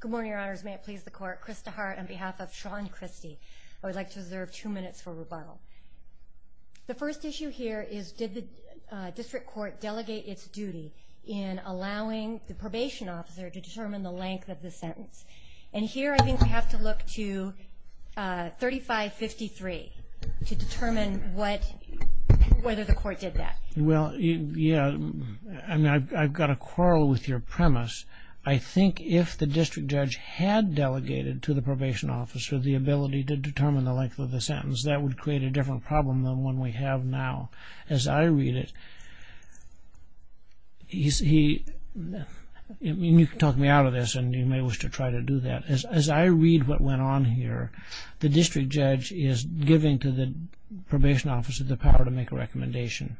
Good morning, Your Honors. May it please the Court, Chris DeHart on behalf of Shawn Christy. I would like to reserve two minutes for rebuttal. The first issue here is did the district court delegate its duty in allowing the probation officer to determine the length of the sentence? And here I think we have to look to 3553 to determine whether the court did that. Well, yeah, I've got to quarrel with your premise. I think if the district judge had delegated to the probation officer the ability to determine the length of the sentence, that would create a different problem than the one we have now. As I read it, you can talk me out of this and you may wish to try to do that. As I read what went on here, the district judge is giving to the probation officer the power to make a recommendation.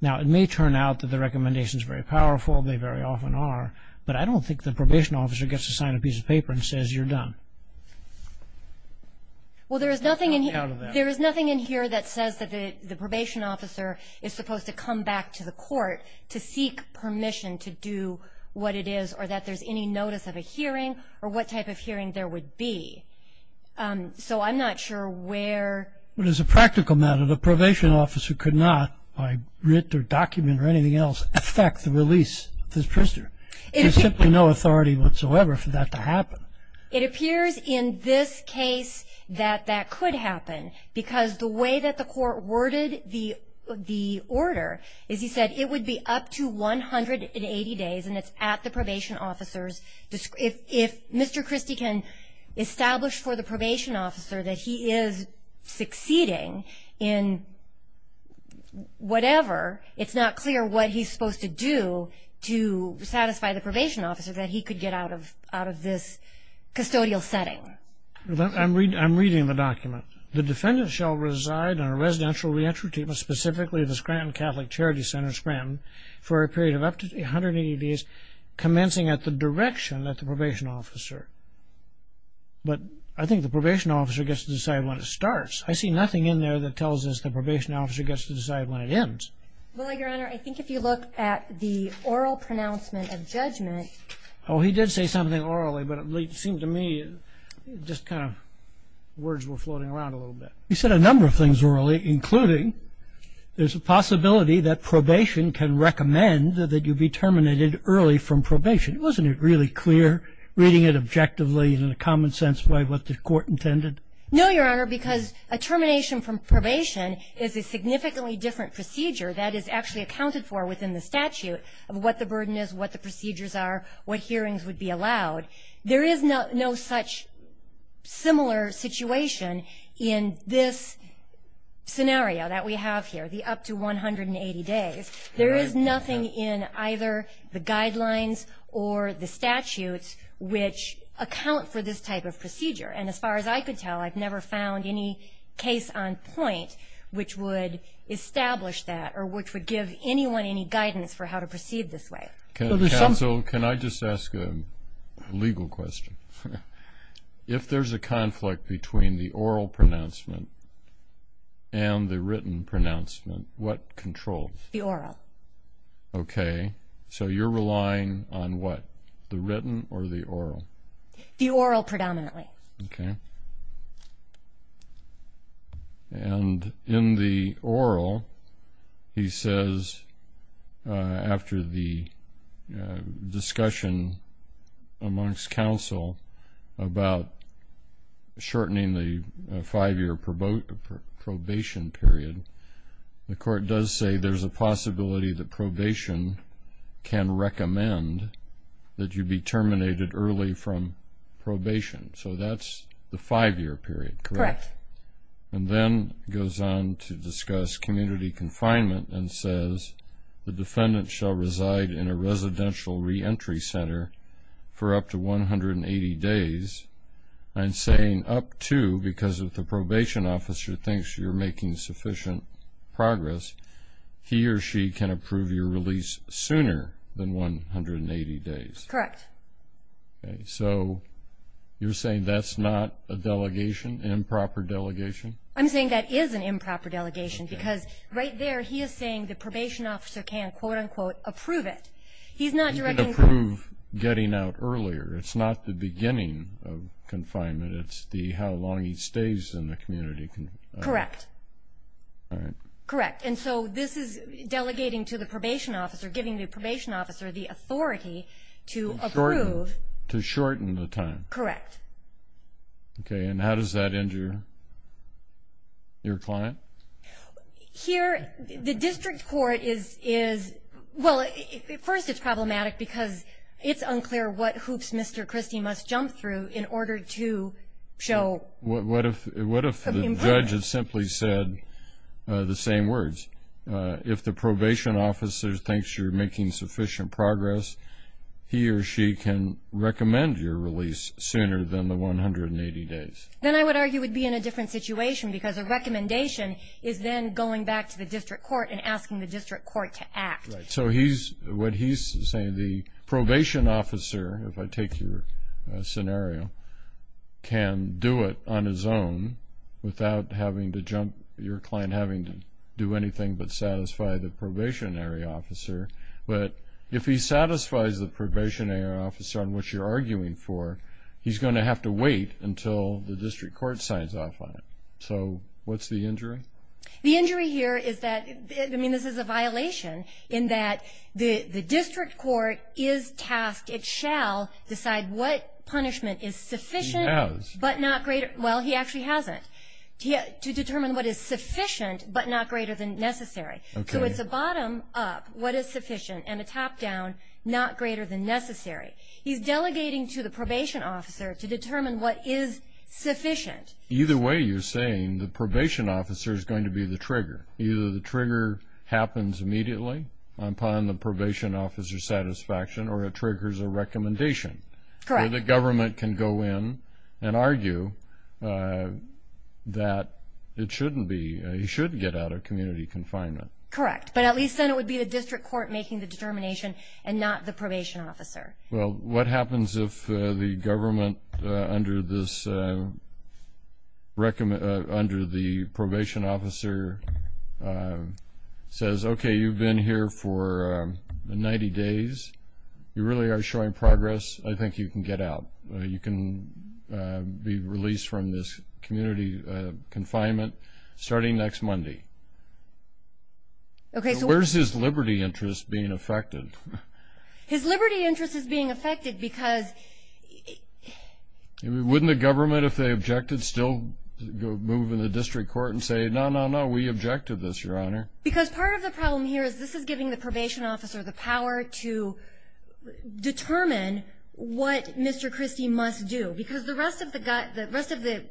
Now, it may turn out that the recommendation is very powerful, they very often are, but I don't think the probation officer gets to sign a piece of paper and says you're done. Well, there is nothing in here that says that the probation officer is supposed to come back to the court to seek permission to do what it is or that there's any notice of a hearing or what type of hearing there would be. So I'm not sure where. But as a practical matter, the probation officer could not by writ or document or anything else affect the release of this prisoner. There's simply no authority whatsoever for that to happen. It appears in this case that that could happen because the way that the court worded the order is, as he said, it would be up to 180 days and it's at the probation officer's discretion. If Mr. Christie can establish for the probation officer that he is succeeding in whatever, it's not clear what he's supposed to do to satisfy the probation officer that he could get out of this custodial setting. I'm reading the document. The defendant shall reside in a residential re-entry treatment, specifically the Scranton Catholic Charity Center, Scranton, for a period of up to 180 days commencing at the direction of the probation officer. But I think the probation officer gets to decide when it starts. I see nothing in there that tells us the probation officer gets to decide when it ends. Well, Your Honor, I think if you look at the oral pronouncement of judgment. Oh, he did say something orally, but it seemed to me just kind of words were floating around a little bit. He said a number of things orally, including there's a possibility that probation can recommend that you be terminated early from probation. Wasn't it really clear reading it objectively and in a common sense way what the court intended? No, Your Honor, because a termination from probation is a significantly different procedure that is actually accounted for within the statute of what the burden is, what the procedures are, what hearings would be allowed. There is no such similar situation in this scenario that we have here, the up to 180 days. There is nothing in either the guidelines or the statutes which account for this type of procedure. And as far as I could tell, I've never found any case on point which would establish that or which would give anyone any guidance for how to proceed this way. Counsel, can I just ask a legal question? If there's a conflict between the oral pronouncement and the written pronouncement, what controls? The oral. Okay. So you're relying on what, the written or the oral? The oral predominantly. Okay. And in the oral, he says after the discussion amongst counsel about shortening the five-year probation period, the court does say there's a possibility that probation can recommend that you be terminated early from probation. So that's the five-year period, correct? Correct. And then it goes on to discuss community confinement and says, the defendant shall reside in a residential reentry center for up to 180 days. And saying, up to, because if the probation officer thinks you're making sufficient progress, he or she can approve your release sooner than 180 days. Correct. Okay. So you're saying that's not a delegation, improper delegation? I'm saying that is an improper delegation because right there he is saying the probation officer can, quote, unquote, approve it. He's not directing. Approve getting out earlier. It's not the beginning of confinement. It's how long he stays in the community. Correct. All right. Correct. And so this is delegating to the probation officer, giving the probation officer the authority to approve. To shorten the time. Correct. Okay. And how does that injure your client? Here, the district court is, well, first it's problematic because it's unclear what hoops Mr. Christie must jump through in order to show improvement. What if the judge had simply said the same words? If the probation officer thinks you're making sufficient progress, he or she can recommend your release sooner than the 180 days. Then I would argue we'd be in a different situation because a recommendation is then going back to the district court and asking the district court to act. Right. So what he's saying, the probation officer, if I take your scenario, can do it on his own without having to jump, your client having to do anything but satisfy the probationary officer. But if he satisfies the probationary officer on which you're arguing for, he's going to have to wait until the district court signs off on it. So what's the injury? The injury here is that, I mean, this is a violation in that the district court is tasked, it shall decide what punishment is sufficient but not greater. He has. Well, he actually hasn't. To determine what is sufficient but not greater than necessary. So it's a bottom-up, what is sufficient, and a top-down, not greater than necessary. He's delegating to the probation officer to determine what is sufficient. Either way you're saying the probation officer is going to be the trigger. Either the trigger happens immediately upon the probation officer's satisfaction or it triggers a recommendation. Correct. Where the government can go in and argue that it shouldn't be, he shouldn't get out of community confinement. Correct. But at least then it would be the district court making the determination and not the probation officer. Well, what happens if the government under the probation officer says, okay, you've been here for 90 days, you really are showing progress, I think you can get out. You can be released from this community confinement starting next Monday. Okay. So where's his liberty interest being affected? His liberty interest is being affected because... Wouldn't the government, if they objected, still move in the district court and say, no, no, no, we object to this, Your Honor? Because part of the problem here is this is giving the probation officer the power to determine what Mr. Christie must do because the rest of the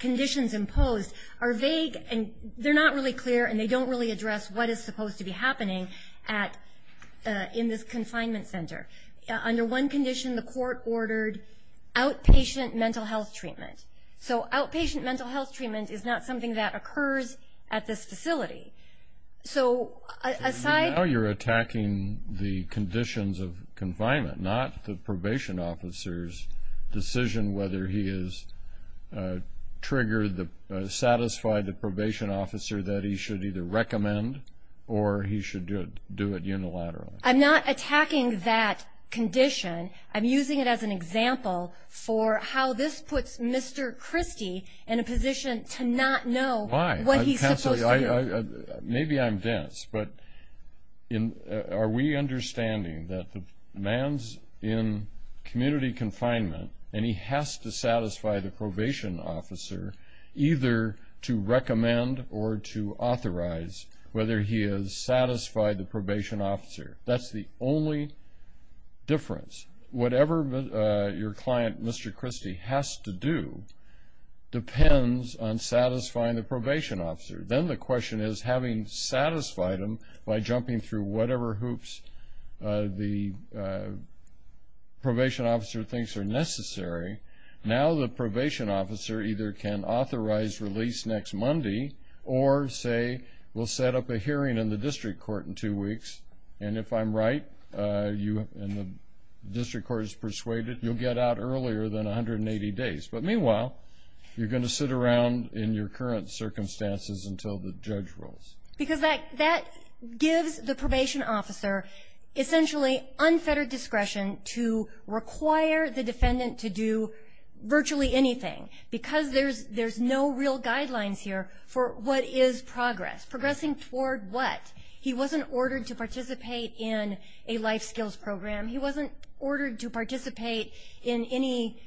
conditions imposed are vague and they're not really clear and they don't really address what is supposed to be happening in this confinement center. Under one condition, the court ordered outpatient mental health treatment. So outpatient mental health treatment is not something that occurs at this facility. So aside... Now you're attacking the conditions of confinement, not the probation officer's decision whether he has triggered, satisfied the probation officer that he should either recommend or he should do it unilaterally. I'm not attacking that condition. I'm using it as an example for how this puts Mr. Christie in a position to not know what he's supposed to do. Maybe I'm dense, but are we understanding that the man's in community confinement and he has to satisfy the probation officer either to recommend or to authorize whether he has satisfied the probation officer? That's the only difference. Whatever your client, Mr. Christie, has to do depends on satisfying the probation officer. Then the question is, having satisfied him by jumping through whatever hoops the probation officer thinks are necessary, now the probation officer either can authorize release next Monday or, say, will set up a hearing in the district court in two weeks, and if I'm right and the district court is persuaded, you'll get out earlier than 180 days. But meanwhile, you're going to sit around in your current circumstances until the judge rolls. Because that gives the probation officer essentially unfettered discretion to require the defendant to do virtually anything because there's no real guidelines here for what is progress, progressing toward what. He wasn't ordered to participate in a life skills program. He wasn't ordered to participate in any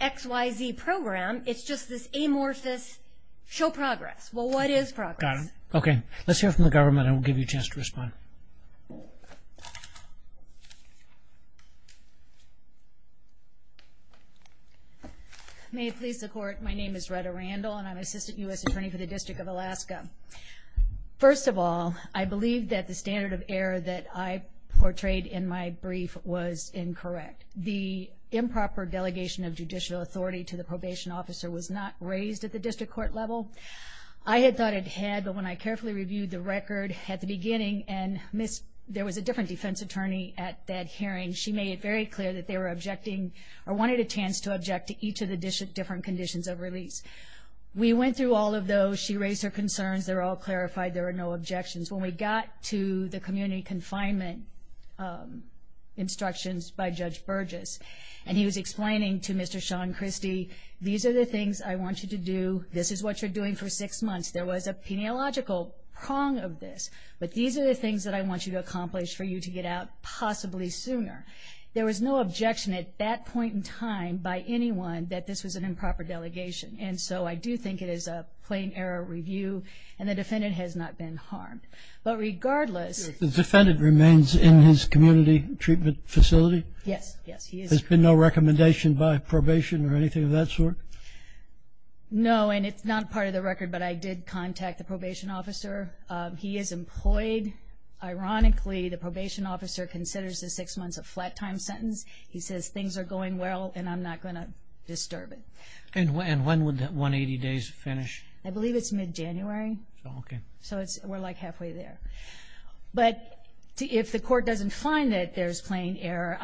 X, Y, Z program. It's just this amorphous show progress. Well, what is progress? Got it. Okay. Let's hear from the government and we'll give you a chance to respond. May it please the Court, my name is Retta Randall, and I'm Assistant U.S. Attorney for the District of Alaska. First of all, I believe that the standard of error that I portrayed in my brief was incorrect. The improper delegation of judicial authority to the probation officer was not raised at the district court level. I had thought it had, but when I carefully reviewed the record at the beginning, and there was a different defense attorney at that hearing, she made it very clear that they were objecting or wanted a chance to object to each of the different conditions of release. We went through all of those. She raised her concerns. They were all clarified. There were no objections. When we got to the community confinement instructions by Judge Burgess, and he was explaining to Mr. Sean Christie, these are the things I want you to do. This is what you're doing for six months. There was a peniological prong of this, but these are the things that I want you to accomplish for you to get out possibly sooner. There was no objection at that point in time by anyone that this was an improper delegation, and so I do think it is a plain error review, and the defendant has not been harmed. But regardless. The defendant remains in his community treatment facility? Yes, yes. There's been no recommendation by probation or anything of that sort? No, and it's not part of the record, but I did contact the probation officer. He is employed. Ironically, the probation officer considers the six months a flat-time sentence. He says things are going well and I'm not going to disturb it. And when would the 180 days finish? I believe it's mid-January. Okay. So we're like halfway there. But if the court doesn't find that there's plain error,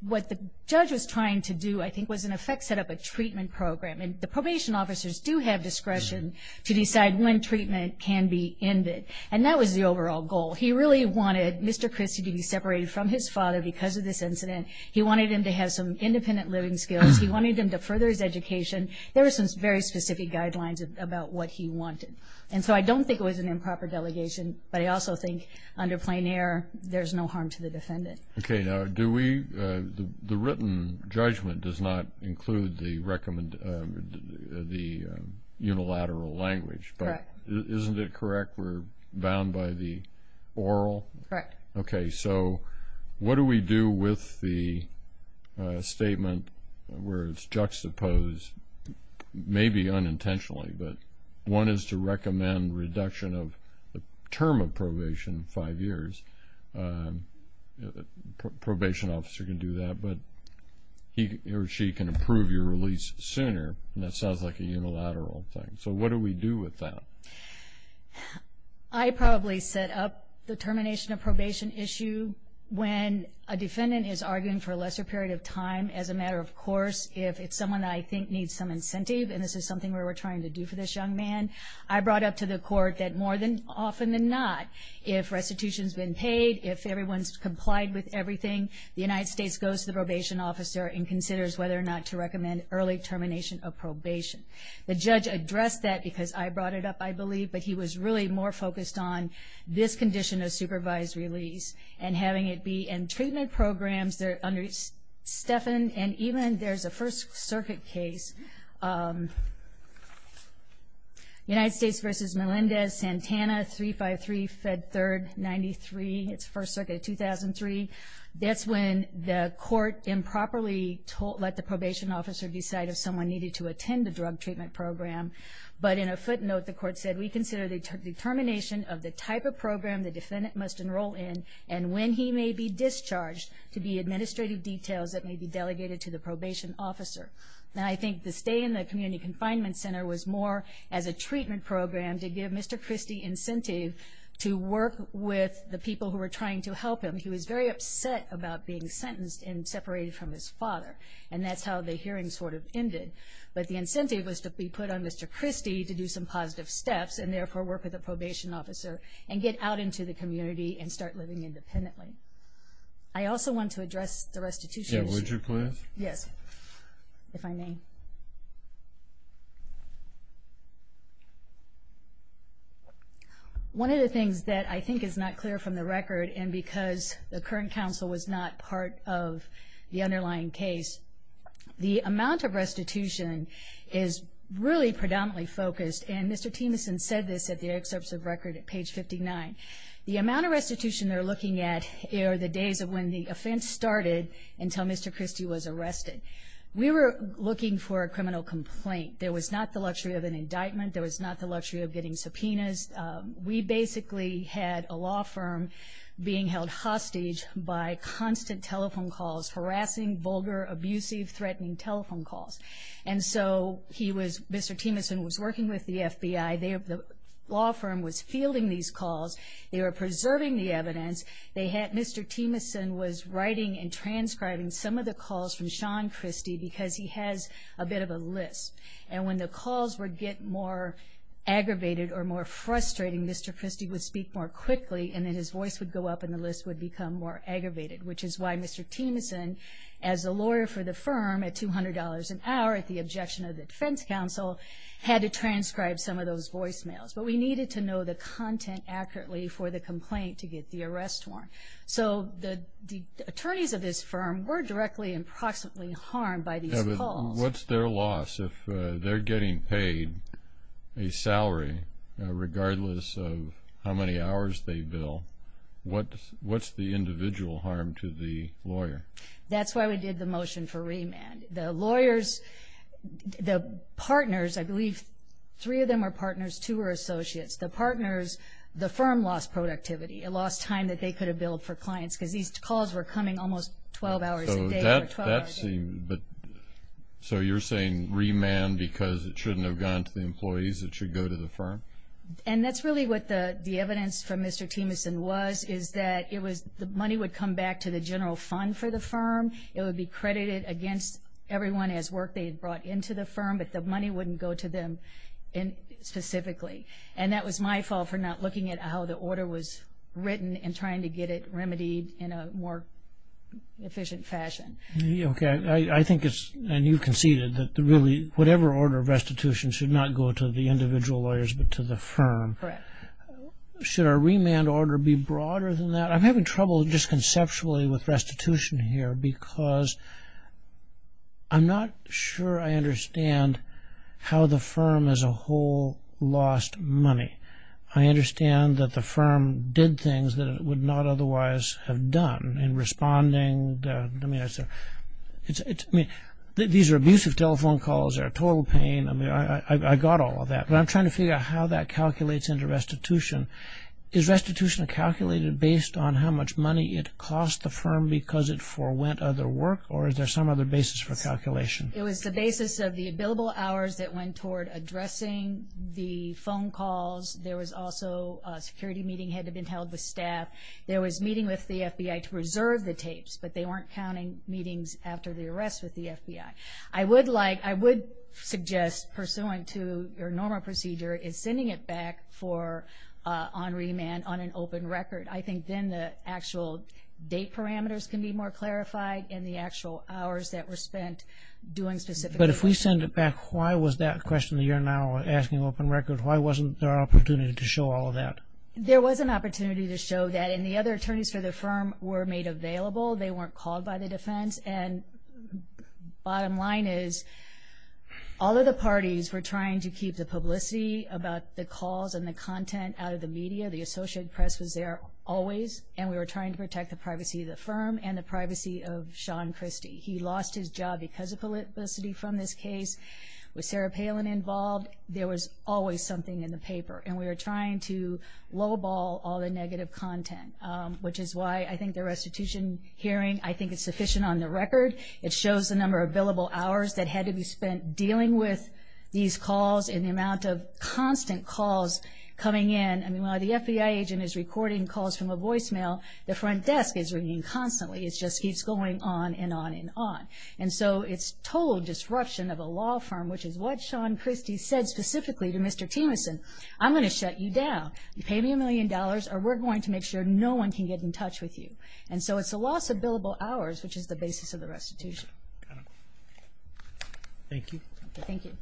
what the judge was trying to do I think was in effect set up a treatment program, the probation officers do have discretion to decide when treatment can be ended, and that was the overall goal. He really wanted Mr. Christie to be separated from his father because of this incident. He wanted him to have some independent living skills. He wanted him to further his education. There were some very specific guidelines about what he wanted. And so I don't think it was an improper delegation, but I also think under plain error there's no harm to the defendant. Okay. Now do we – the written judgment does not include the unilateral language. But isn't it correct we're bound by the oral? Correct. Okay. So what do we do with the statement where it's juxtaposed, maybe unintentionally, but one is to recommend reduction of the term of probation, five years. A probation officer can do that, but he or she can approve your release sooner, and that sounds like a unilateral thing. So what do we do with that? I probably set up the termination of probation issue when a defendant is arguing for a lesser period of time as a matter of course if it's someone that I think needs some incentive, and this is something we were trying to do for this young man. I brought up to the court that more often than not, if restitution's been paid, if everyone's complied with everything, the United States goes to the probation officer and considers whether or not to recommend early termination of probation. The judge addressed that because I brought it up, I believe, but he was really more focused on this condition of supervised release and having it be in treatment programs. And even there's a First Circuit case, United States v. Melendez-Santana, 353 Fed 3rd 93, it's First Circuit of 2003. That's when the court improperly let the probation officer decide if someone needed to attend the drug treatment program, but in a footnote the court said, we consider the termination of the type of program the defendant must enroll in and when he may be discharged to be administrative details that may be delegated to the probation officer. Now I think the stay in the community confinement center was more as a treatment program to give Mr. Christie incentive to work with the people who were trying to help him. He was very upset about being sentenced and separated from his father, and that's how the hearing sort of ended. But the incentive was to be put on Mr. Christie to do some positive steps and therefore work with the probation officer and get out into the community and start living independently. I also want to address the restitution issue. Yeah, would you please? Yes, if I may. One of the things that I think is not clear from the record, and because the current counsel was not part of the underlying case, the amount of restitution is really predominantly focused, and Mr. Timmonson said this at the excerpts of record at page 59. The amount of restitution they're looking at are the days of when the offense started until Mr. Christie was arrested. We were looking for a criminal complaint. There was not the luxury of an indictment. There was not the luxury of getting subpoenas. We basically had a law firm being held hostage by constant telephone calls, harassing, vulgar, abusive, threatening telephone calls. And so Mr. Timmonson was working with the FBI. The law firm was fielding these calls. They were preserving the evidence. Mr. Timmonson was writing and transcribing some of the calls from Sean Christie because he has a bit of a list. And when the calls would get more aggravated or more frustrating, Mr. Christie would speak more quickly and then his voice would go up and the list would become more aggravated, which is why Mr. Timmonson, as a lawyer for the firm, at $200 an hour, at the objection of the defense counsel, had to transcribe some of those voicemails. But we needed to know the content accurately for the complaint to get the arrest warrant. So the attorneys of this firm were directly and proximately harmed by these calls. What's their loss if they're getting paid a salary regardless of how many hours they bill? What's the individual harm to the lawyer? That's why we did the motion for remand. The lawyers, the partners, I believe three of them are partners, two are associates. The partners, the firm lost productivity. It lost time that they could have billed for clients because these calls were coming almost 12 hours a day or 12 hours a day. So you're saying remand because it shouldn't have gone to the employees, it should go to the firm? And that's really what the evidence from Mr. Timmonson was, is that the money would come back to the general fund for the firm. It would be credited against everyone as work they had brought into the firm, but the money wouldn't go to them specifically. And that was my fault for not looking at how the order was written and trying to get it remedied in a more efficient fashion. Okay. I think it's, and you conceded, that really whatever order of restitution should not go to the individual lawyers but to the firm. Correct. Should our remand order be broader than that? I'm having trouble just conceptually with restitution here because I'm not sure I understand how the firm as a whole lost money. I understand that the firm did things that it would not otherwise have done in responding. I mean, these are abusive telephone calls. They're a total pain. I mean, I got all of that. But I'm trying to figure out how that calculates into restitution. Is restitution calculated based on how much money it cost the firm because it forwent other work, or is there some other basis for calculation? It was the basis of the billable hours that went toward addressing the phone calls. There was also a security meeting had to have been held with staff. There was a meeting with the FBI to reserve the tapes, but they weren't counting meetings after the arrest with the FBI. I would suggest, pursuant to your normal procedure, is sending it back on remand on an open record. I think then the actual date parameters can be more clarified and the actual hours that were spent doing specific work. But if we send it back, why was that question that you're now asking open record, why wasn't there an opportunity to show all of that? There was an opportunity to show that, and the other attorneys for the firm were made available. They weren't called by the defense. And the bottom line is all of the parties were trying to keep the publicity about the calls and the content out of the media. The Associated Press was there always, and we were trying to protect the privacy of the firm and the privacy of Sean Christie. He lost his job because of publicity from this case. With Sarah Palin involved, there was always something in the paper, and we were trying to lowball all the negative content, which is why I think the restitution hearing, I think, is sufficient on the record. It shows the number of billable hours that had to be spent dealing with these calls and the amount of constant calls coming in. I mean, while the FBI agent is recording calls from a voicemail, the front desk is ringing constantly. It just keeps going on and on and on. And so it's total disruption of a law firm, which is what Sean Christie said specifically to Mr. Timmonson. I'm going to shut you down. You pay me a million dollars or we're going to make sure no one can get in touch with you. And so it's a loss of billable hours, which is the basis of the restitution. Thank you. Thank you.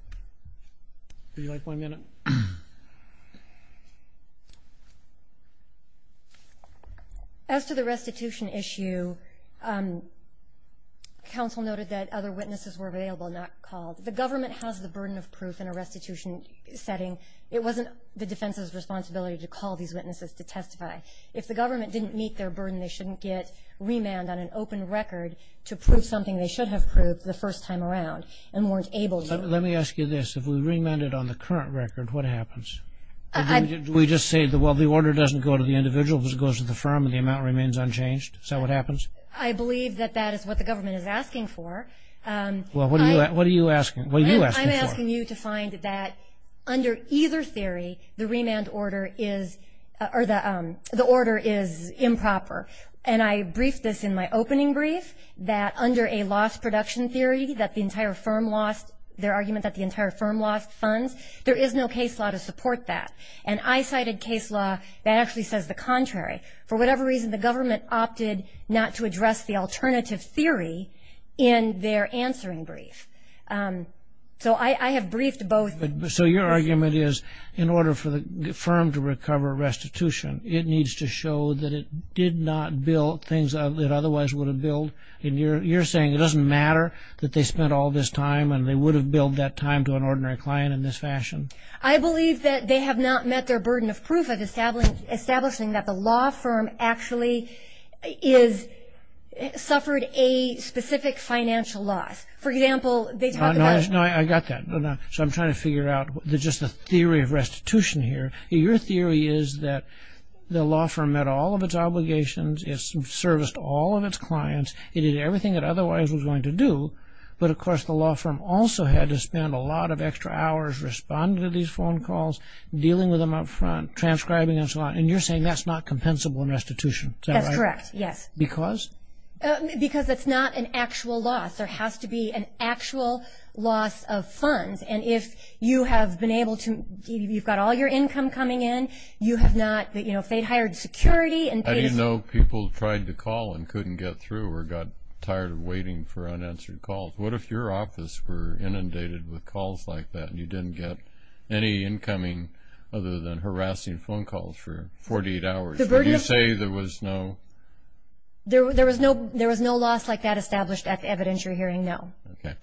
Would you like one minute? As to the restitution issue, counsel noted that other witnesses were available, not called. The government has the burden of proof in a restitution setting. It wasn't the defense's responsibility to call these witnesses to testify. If the government didn't meet their burden, they shouldn't get remand on an open record to prove something they should have proved the first time around and weren't able to. Let me ask you this. If we remanded on the current record, what happens? Do we just say, well, the order doesn't go to the individual, but it goes to the firm and the amount remains unchanged? Is that what happens? I believe that that is what the government is asking for. Well, what are you asking for? I'm asking you to find that under either theory, the remand order is improper. And I briefed this in my opening brief, that under a loss production theory, that the entire firm lost their argument, that the entire firm lost funds, there is no case law to support that. And I cited case law that actually says the contrary. For whatever reason, the government opted not to address the alternative theory in their answering brief. So I have briefed both. So your argument is in order for the firm to recover restitution, it needs to show that it did not build things that it otherwise would have built. And you're saying it doesn't matter that they spent all this time and they would have billed that time to an ordinary client in this fashion? I believe that they have not met their burden of proof of establishing that the law firm actually suffered a specific financial loss. For example, they talk about- No, I got that. So I'm trying to figure out just the theory of restitution here. Your theory is that the law firm met all of its obligations, it serviced all of its clients, it did everything it otherwise was going to do, but, of course, the law firm also had to spend a lot of extra hours responding to these phone calls, dealing with them up front, transcribing and so on. And you're saying that's not compensable in restitution. Is that right? That's correct, yes. Because? Because it's not an actual loss. There has to be an actual loss of funds. And if you have been able to-if you've got all your income coming in, you have not-if they hired security and paid a fee- How do you know people tried to call and couldn't get through or got tired of waiting for unanswered calls? What if your office were inundated with calls like that and you didn't get any incoming other than harassing phone calls for 48 hours? Would you say there was no- There was no loss like that established at the evidentiary hearing, no.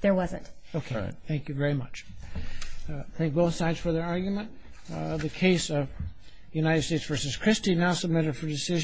There wasn't. Okay. Thank you very much. Thank both sides for their argument. The case of United States v. Christie now submitted for decision.